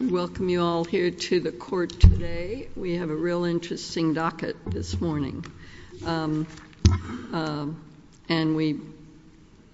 Welcome you all here to the court today. We have a real interesting docket this morning. And we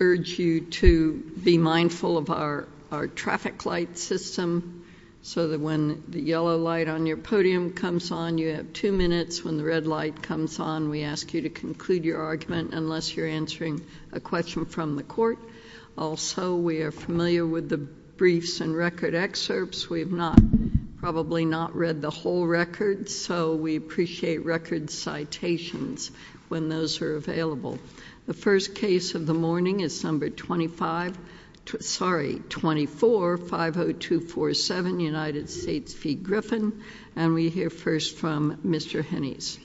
urge you to be mindful of our traffic light system so that when the yellow light on your podium comes on, you have two minutes. When the red light comes on, we ask you to conclude your argument unless you're answering a question from the court. Also, we are familiar with the briefs and record excerpts. We've probably not read the whole record, so we appreciate record citations when those are available. The first case of the morning is number 24-50247, United States v. Griffin. And we hear first from Mr. Hennies.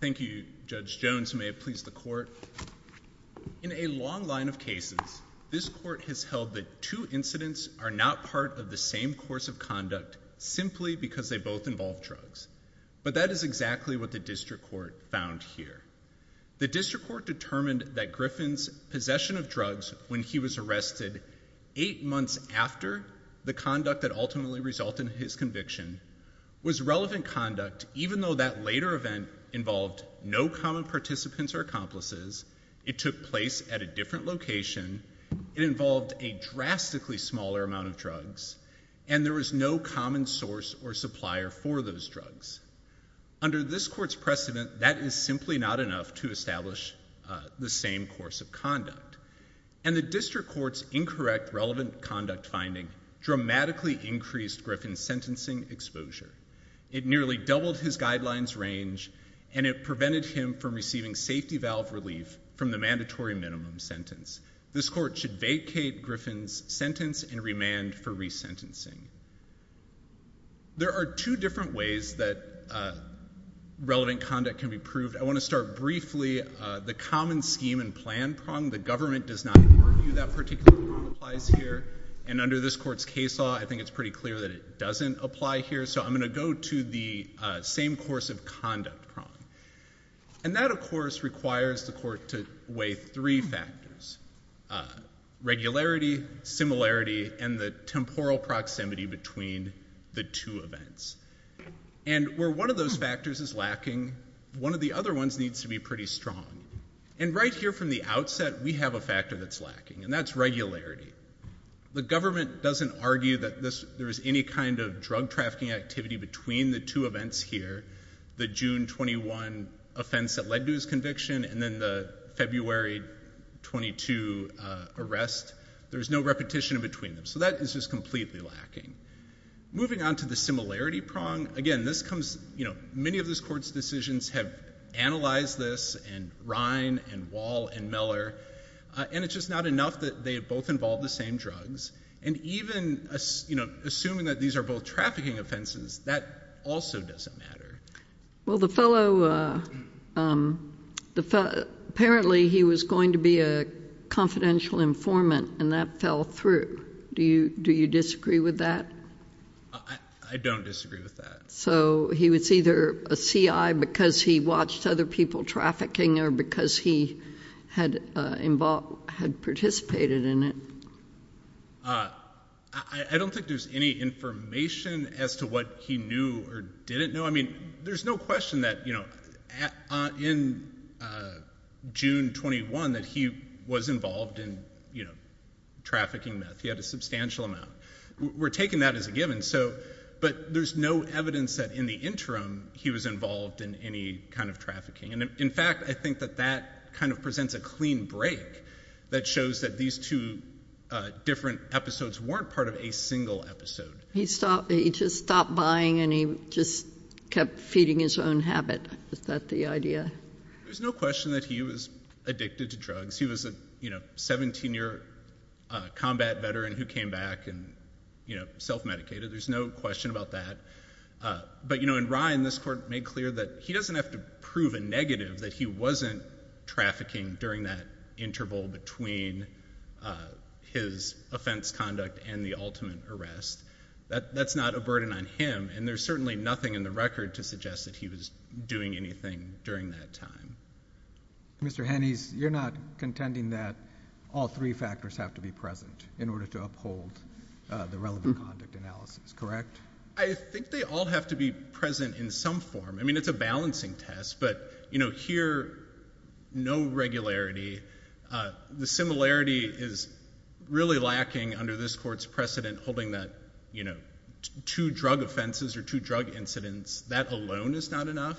Thank you, Judge Jones. May it please the court. In a long line of cases, this court has held that two incidents are not part of the same course of conduct simply because they both involve drugs. But that is exactly what the district court found here. The district court determined that Griffin's possession of drugs when he was arrested eight months after the conduct that ultimately resulted in his conviction was relevant conduct even though that later event involved no common participants or accomplices, it took place at a different location, it involved a drastically smaller amount of drugs, and there was no common source or supplier for those drugs. Under this court's precedent, that is simply not enough to establish the same course of conduct. And the district court's incorrect relevant conduct finding dramatically increased Griffin's sentencing exposure. It nearly doubled his guidelines range, and it prevented him from receiving safety valve relief from the mandatory minimum sentence. This court should vacate Griffin's sentence and remand for resentencing. There are two different ways that relevant conduct can be proved. I want to start briefly, the common scheme and plan prong. The government does not argue that particular prong applies here. And under this court's case law, I think it's pretty clear that it doesn't apply here. So I'm going to go to the same course of conduct prong. And that, of course, requires the court to weigh three factors, regularity, similarity, and the temporal proximity between the two events. And where one of those factors is lacking, one of the other ones needs to be pretty strong. And right here from the outset, we have a factor that's lacking, and that's regularity. The government doesn't argue that there is any kind of drug trafficking activity between the two events here, the June 21 offense that led to his conviction, and then the February 22 arrest. There's no repetition between them. So that is just completely lacking. Moving on to the similarity prong, again, this comes you know, many of this court's decisions have analyzed this, and Rhine, and Wall, and Miller, and it's just not enough that they both involve the same drugs. And even, you know, assuming that these are both trafficking offenses, that also doesn't matter. Well the fellow, apparently he was going to be a confidential informant, and that fell through. Do you disagree with that? I don't disagree with that. So he was either a CI because he watched other people trafficking, or because he had participated in it? I don't think there's any information as to what he knew or didn't know. I mean, there's no question that, you know, in June 21 that he was involved in, you know, trafficking meth. He had a substantial amount. We're taking that as a given. So, but there's no evidence that in the interim he was involved in any kind of trafficking. And in fact, I think that that kind of presents a clean break that shows that these two different episodes weren't part of a single episode. He stopped, he just stopped buying, and he just kept feeding his own habit. Is that the idea? There's no question that he was addicted to drugs. He was a, you know, 17-year combat veteran who came back and, you know, self-medicated. There's no question about that. But, you know, in Ryan, this court made clear that he doesn't have to prove a negative that he wasn't trafficking during that interval between his offense conduct and the ultimate arrest. That's not a burden on him, and there's certainly nothing in the record to suggest that he was doing anything during that time. Mr. Hennies, you're not contending that all three factors have to be present in order to uphold the relevant conduct analysis, correct? I think they all have to be present in some form. I mean, it's a balancing test, but, you know, here, no regularity. The similarity is really lacking under this court's precedent holding that, you know, two drug offenses or two drug incidents, that alone is not enough.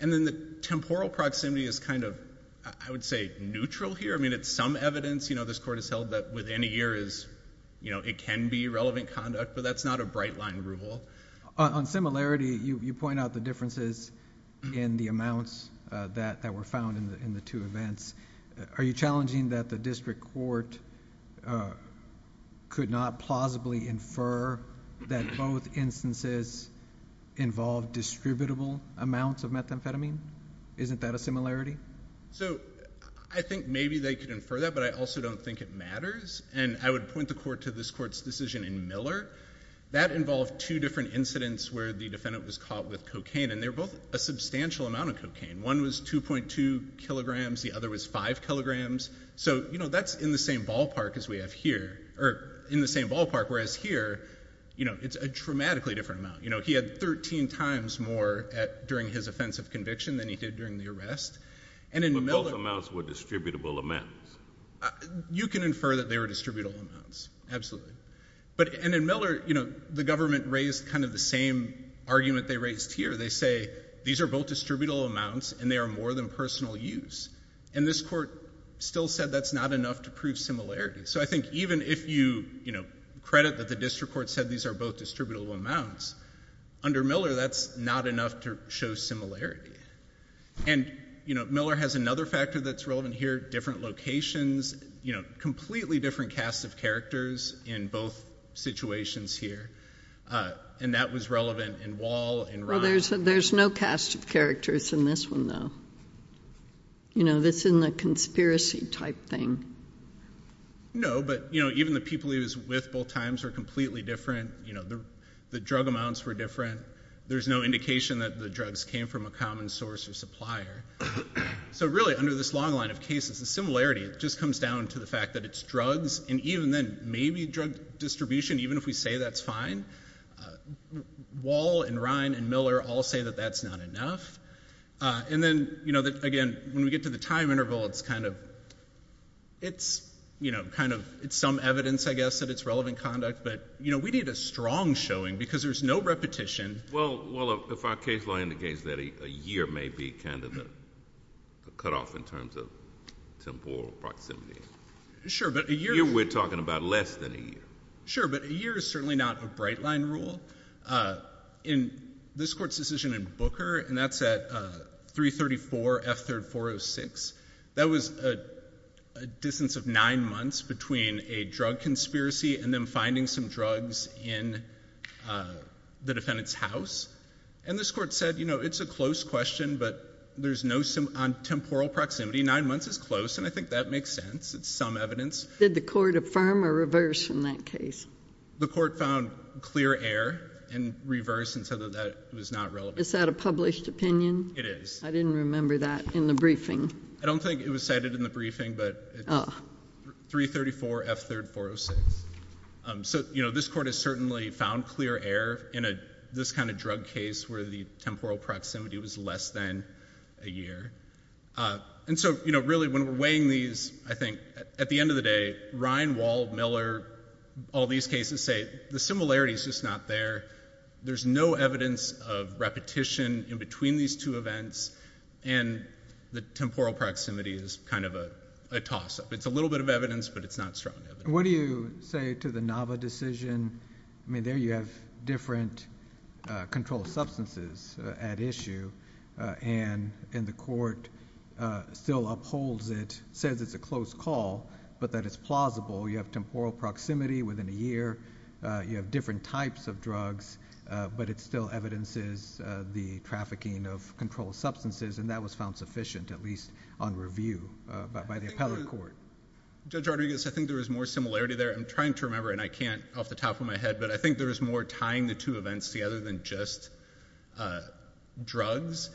And then the temporal proximity is kind of, I would say, neutral here. I mean, it's some evidence, you know, this court has held that within a year is, you know, it can be relevant conduct, but that's not a bright line rule. On similarity, you point out the differences in the amounts that were found in the two events. Are you challenging that the district court could not plausibly infer that both amounts of methamphetamine? Isn't that a similarity? So I think maybe they could infer that, but I also don't think it matters. And I would point the court to this court's decision in Miller. That involved two different incidents where the defendant was caught with cocaine, and they were both a substantial amount of cocaine. One was 2.2 kilograms, the other was 5 kilograms. So, you know, that's in the same ballpark as we have here, or in the same ballpark, whereas here, you know, it's a dramatically different amount. You know, he had 13 times more during his offensive conviction than he did during the arrest. But both amounts were distributable amounts. You can infer that they were distributable amounts, absolutely. And in Miller, you know, the government raised kind of the same argument they raised here. They say these are both distributable amounts, and they are more than personal use. And this court still said that's not enough to prove similarity. So I think even if you, you know, credit that the district court said these are both distributable amounts, under Miller, that's not enough to show similarity. And you know, Miller has another factor that's relevant here, different locations, you know, completely different cast of characters in both situations here. And that was relevant in Wall and Ryan. Well, there's no cast of characters in this one, though. You know, this isn't a conspiracy type thing. No, but, you know, even the people he was with both times were completely different. You know, the drug amounts were different. There's no indication that the drugs came from a common source or supplier. So really, under this long line of cases, the similarity just comes down to the fact that it's drugs. And even then, maybe drug distribution, even if we say that's fine, Wall and Ryan and Miller all say that that's not enough. And then, you know, again, when we get to the time interval, it's kind of, it's, you know, kind of, it's some evidence, I guess, that it's relevant conduct. But, you know, we need a strong showing, because there's no repetition. Well, if our case law indicates that a year may be kind of a cutoff in terms of temporal proximity. Sure, but a year— A year we're talking about less than a year. Sure, but a year is certainly not a bright line rule. In this Court's decision in Booker, and that's at 334 F. 3rd 406, that was a distance of nine months between a drug conspiracy and them finding some drugs in the defendant's house. And this Court said, you know, it's a close question, but there's no temporal proximity. Nine months is close, and I think that makes sense. It's some evidence. Did the Court affirm or reverse in that case? The Court found clear error and reversed and said that that was not relevant. Is that a published opinion? It is. I didn't remember that in the briefing. I don't think it was cited in the briefing, but it's 334 F. 3rd 406. So, you know, this Court has certainly found clear error in this kind of drug case where the temporal proximity was less than a year. And so, you know, really, when we're weighing these, I think, at the end of the day, Ryan, Wall, Miller, all these cases say the similarity is just not there. There's no evidence of repetition in between these two events, and the temporal proximity is kind of a toss-up. It's a little bit of evidence, but it's not strong evidence. What do you say to the Nava decision? I mean, there you have different controlled substances at issue, and the Court still upholds it, says it's a close call, but that it's plausible. You have temporal proximity within a year. You have different types of drugs, but it still evidences the trafficking of controlled substances, and that was found sufficient, at least on review by the appellate court. Judge Rodriguez, I think there was more similarity there. I'm trying to remember, and I can't off the top of my head, but I think there was more tying the two events together than just drugs.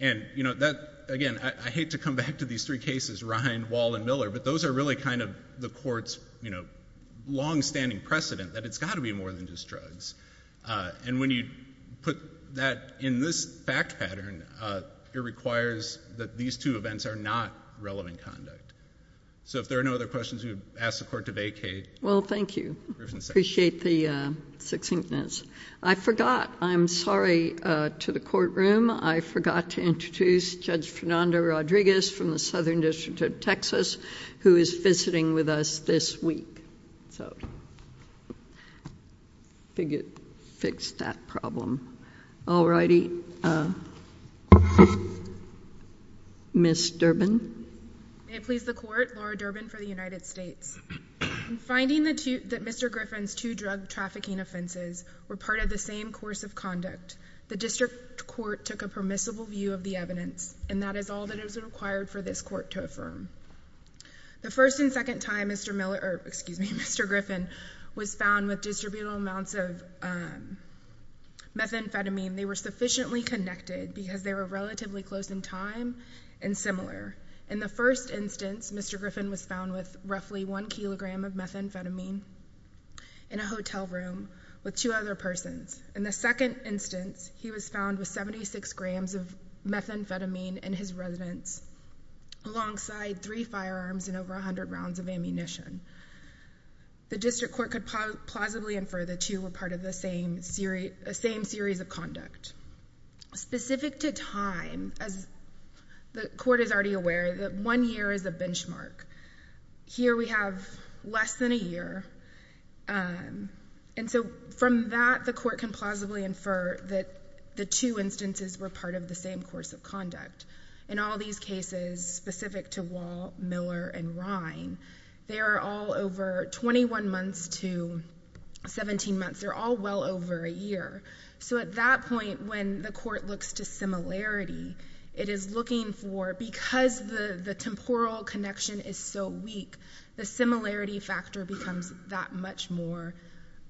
And, you know, that, again, I hate to come back to these three cases, Ryan, Wall, and Miller, but those are really kind of the Court's, you know, long-standing precedent that it's got to be more than just drugs. And when you put that in this fact pattern, it requires that these two events are not relevant conduct. So if there are no other questions, we would ask the Court to vacate. Well, thank you. I appreciate the succinctness. I forgot. I'm sorry to the courtroom. I forgot to introduce Judge Fernanda Rodriguez from the Southern District of Texas, who is visiting with us this week. So I figured I'd fix that problem. All righty. Ms. Durbin? May it please the Court, Laura Durbin for the United States. In finding that Mr. Griffin's two drug trafficking offenses were part of the same course of conduct, the District Court took a permissible view of the evidence, and that is all that is required for this Court to affirm. The first and second time Mr. Miller—or, excuse me, Mr. Griffin was found with distributable amounts of methamphetamine, they were sufficiently connected because they were relatively close in time and similar. In the first instance, Mr. Griffin was found with roughly one kilogram of methamphetamine in a hotel room with two other persons. In the second instance, he was found with 76 grams of methamphetamine in his residence alongside three firearms and over 100 rounds of ammunition. The District Court could plausibly infer the two were part of the same series of conduct. Specific to time, as the Court is already aware, that one year is a benchmark. Here we have less than a year, and so from that, the Court can plausibly infer that the two instances were part of the same course of conduct. In all these cases, specific to Wall, Miller, and Rhine, they are all over 21 months to 17 months. They're all well over a year. So at that point, when the Court looks to similarity, it is looking for—because the temporal connection is so weak, the similarity factor becomes that much more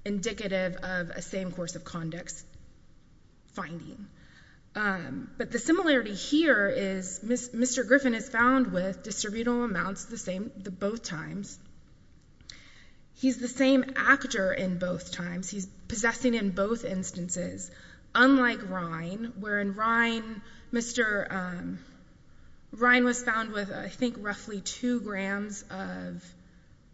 indicative of a same course of conduct finding. But the similarity here is Mr. Griffin is found with distributable amounts both times. He's the same actor in both times. He's possessing in both instances, unlike Rhine, wherein Rhine was found with, I think, roughly two grams of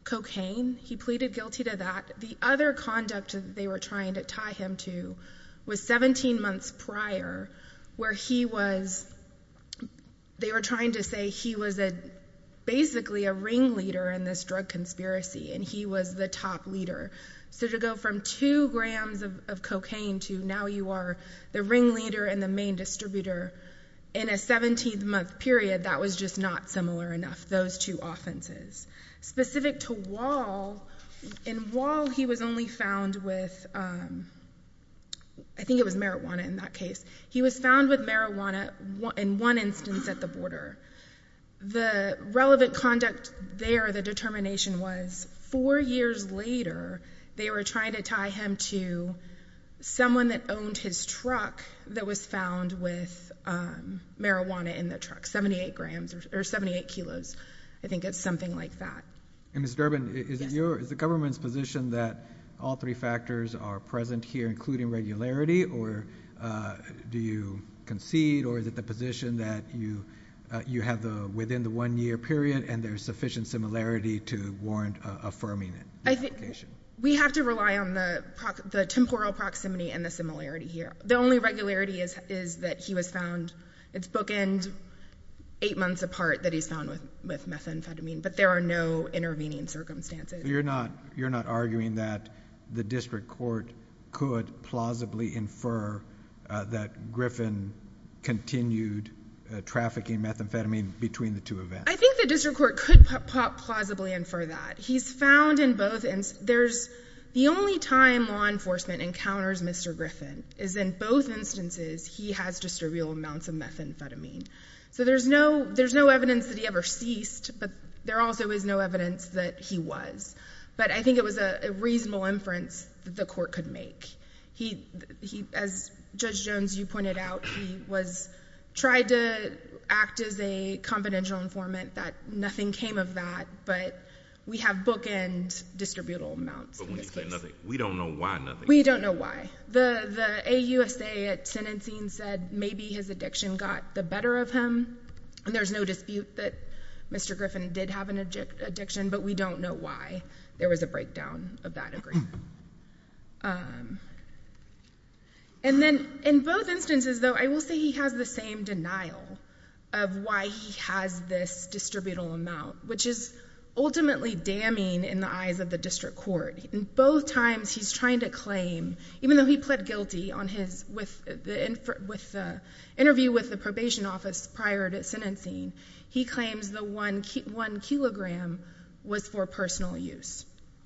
cocaine. He pleaded guilty to that. The other conduct they were trying to tie him to was 17 months prior, where they were trying to say he was basically a ringleader in this drug conspiracy, and he was the top leader. So to go from two grams of cocaine to now you are the ringleader and the main distributor in a 17-month period, that was just not similar enough, those two offenses. Specific to Wall, in Wall, he was only found with—I think it was marijuana in that case. He was found with marijuana in one instance at the border. The relevant conduct there, the determination was four years later, they were trying to tie him to someone that owned his truck that was found with marijuana in the truck, 78 kilos. I think it's something like that. And Ms. Durbin, is the government's position that all three factors are present here, including regularity, or do you concede, or is it the position that you have within the one-year period and there's sufficient similarity to warrant affirming the application? We have to rely on the temporal proximity and the similarity here. The only regularity is that he was found—it's bookend eight months apart that he's found with methamphetamine, but there are no intervening circumstances. You're not arguing that the district court could plausibly infer that Griffin continued trafficking methamphetamine between the two events? I think the district court could plausibly infer that. He's found in both—the only time law enforcement encounters Mr. Griffin is in both instances he has distributed amounts of methamphetamine. So there's no evidence that he ever ceased, but there also is no evidence that he was. But I think it was a reasonable inference the court could make. He—as Judge Jones, you pointed out, he was—tried to act as a confidential informant that nothing came of that, but we have bookend distributable amounts in this case. But when you say nothing, we don't know why nothing came of it. We don't know why. The AUSA at sentencing said maybe his addiction got the better of him, and there's no dispute that Mr. Griffin did have an addiction, but we don't know why there was a breakdown of that agreement. And then in both instances, though, I will say he has the same denial of why he has this distributable amount, which is ultimately damning in the eyes of the district court. In both times he's trying to claim—even though he pled guilty on his—with the interview with probation office prior to sentencing, he claims the one kilogram was for personal use.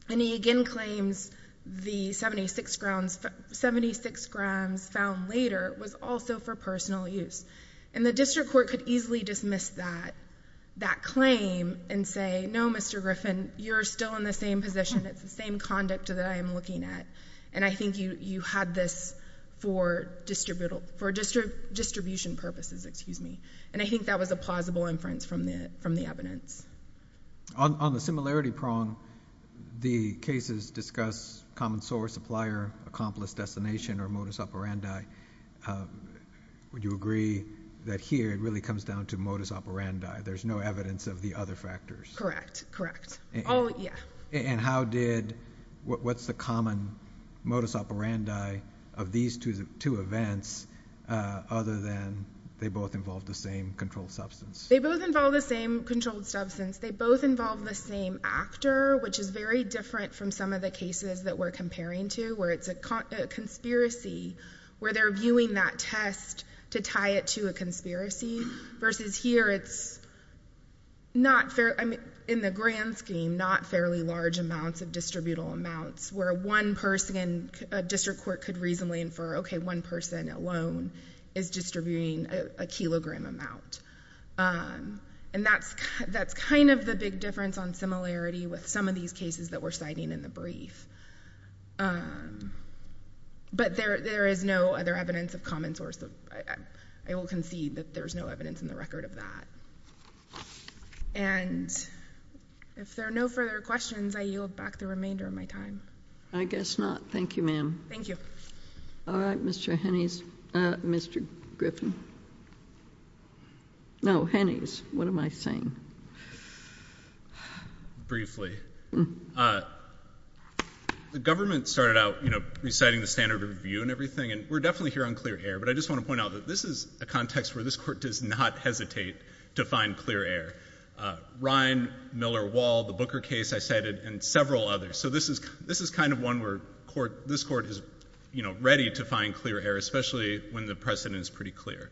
And he again claims the 76 grams found later was also for personal use. And the district court could easily dismiss that claim and say, no, Mr. Griffin, you're still in the same position. It's the same conduct that I am looking at, and I think you had this for distribution purposes, excuse me. And I think that was a plausible inference from the evidence. On the similarity prong, the cases discuss common source, supplier, accomplice, destination, or modus operandi. Would you agree that here it really comes down to modus operandi? There's no evidence of the other factors? Correct. Correct. Oh, yeah. And how did—what's the common modus operandi of these two events other than they both involve the same controlled substance? They both involve the same controlled substance. They both involve the same actor, which is very different from some of the cases that we're comparing to, where it's a conspiracy, where they're viewing that test to tie it to a conspiracy, versus here it's not—in the grand scheme, not fairly large amounts of distributable amounts, where one person—a district court could reasonably infer, okay, one person alone is distributing a kilogram amount. And that's kind of the big difference on similarity with some of these cases that we're citing in the brief. But there is no other evidence of common source. I will concede that there's no evidence in the record of that. And if there are no further questions, I yield back the remainder of my time. I guess not. Thank you, ma'am. Thank you. All right, Mr. Hennings—Mr. Griffin. No, Hennings. What am I saying? Briefly. The government started out, you know, reciting the standard of review and everything, and we're definitely here on clear air, but I just want to point out that this is a context where this Court does not hesitate to find clear air. Ryan, Miller, Wall, the Booker case I cited, and several others. So this is kind of one where this Court is, you know, ready to find clear air, especially when the precedent is pretty clear.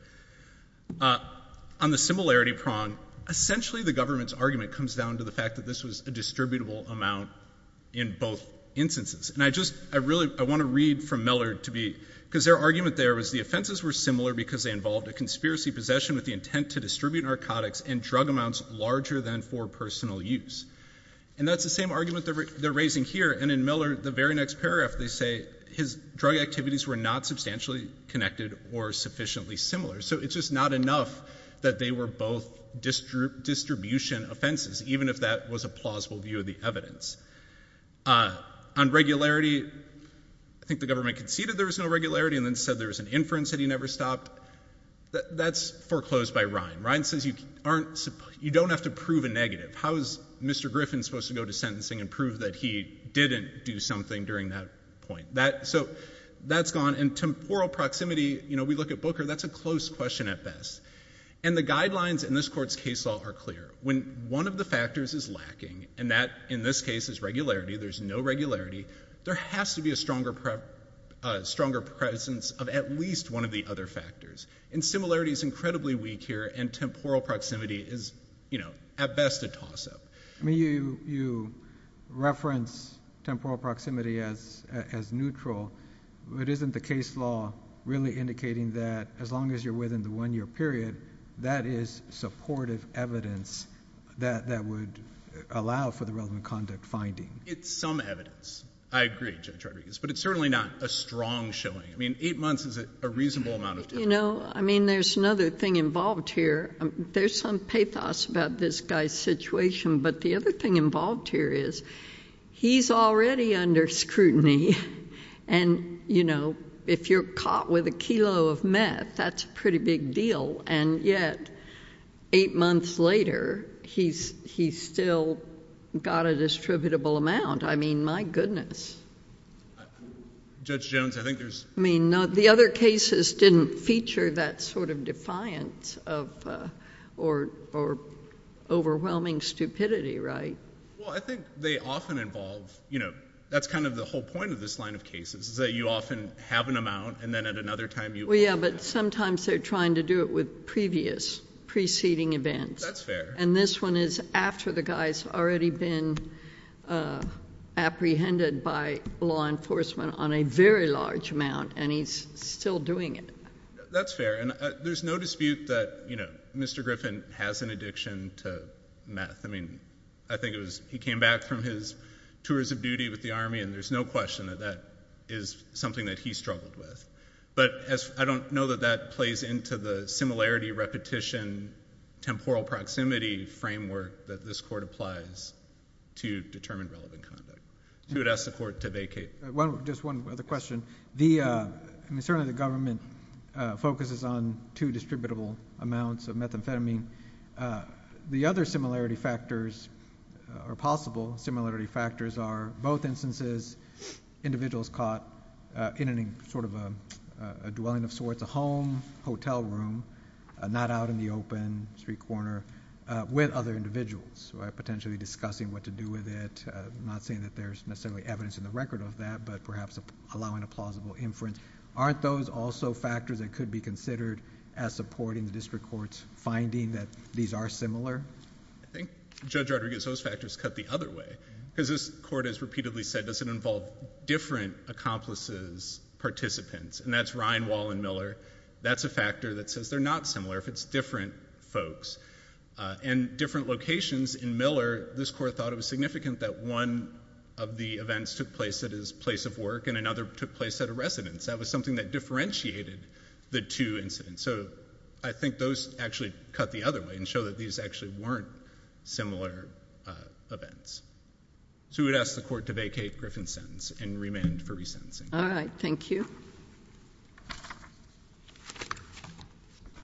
On the similarity prong, essentially the government's argument comes down to the fact that this was a distributable amount in both instances. And I just—I want to read from Miller to be—because their argument there was the offenses were similar because they involved a conspiracy possession with the intent to distribute narcotics and drug amounts larger than for personal use. And that's the same argument they're raising here. And in Miller, the very next paragraph, they say his drug activities were not substantially connected or sufficiently similar. So it's just not enough that they were both distribution offenses, even if that was a plausible view of the evidence. On regularity, I think the government conceded there was no regularity and then said there was an inference that he never stopped. That's foreclosed by Ryan. Ryan says you aren't—you don't have to prove a negative. How is Mr. Griffin supposed to go to sentencing and prove that he didn't do something during that point? That—so that's gone. And temporal proximity, you know, we look at Booker, that's a close question at best. And the guidelines in this Court's case law are clear. When one of the factors is lacking, and that in this case is regularity, there's no regularity, there has to be a stronger presence of at least one of the other factors. And similarity is incredibly weak here, and temporal proximity is, you know, at best a toss-up. I mean, you reference temporal proximity as neutral, but isn't the case law really indicating that as long as you're within the one-year period, that is supportive evidence that would allow for the relevant conduct finding? It's some evidence. I agree, Judge Rodriguez. But it's certainly not a strong showing. I mean, eight months is a reasonable amount of time. You know, I mean, there's another thing involved here. There's some pathos about this guy's situation. But the other thing involved here is he's already under scrutiny. And, you know, if you're caught with a kilo of meth, that's a pretty big deal. And yet, eight months later, he's still got a distributable amount. I mean, my goodness. Judge Jones, I think there's... I mean, the other cases didn't feature that sort of defiance or overwhelming stupidity, right? Well, I think they often involve, you know, that's kind of the whole point of this line of cases, is that you often have an amount, and then at another time you... Yeah, but sometimes they're trying to do it with previous, preceding events. That's fair. And this one is after the guy's already been apprehended by law enforcement on a very large amount, and he's still doing it. That's fair. And there's no dispute that, you know, Mr. Griffin has an addiction to meth. I mean, I think it was... he came back from his tours of duty with the Army, and there's no question that that is something that he struggled with. But I don't know that that plays into the similarity, repetition, temporal proximity framework that this court applies to determine relevant conduct. You would ask the court to vacate. Just one other question. The... I mean, certainly the government focuses on two distributable amounts of methamphetamine. The other similarity factors, or possible similarity factors, are both instances individuals caught in any sort of a dwelling of sorts, a home, hotel room, not out in the open, street corner, with other individuals. Potentially discussing what to do with it, not saying that there's necessarily evidence in the record of that, but perhaps allowing a plausible inference. Aren't those also factors that could be considered as supporting the district court's finding that these are similar? I think Judge Rodriguez, those factors cut the other way. Because this court has repeatedly said, does it involve different accomplices, And that's Ryan, Wall, and Miller. That's a factor that says they're not similar if it's different folks. And different locations in Miller, this court thought it was significant that one of the events took place at his place of work and another took place at a residence. That was something that differentiated the two incidents. So I think those actually cut the other way and show that these actually weren't similar events. So we would ask the court to vacate Griffin's sentence and remand for resentencing. All right. Thank you.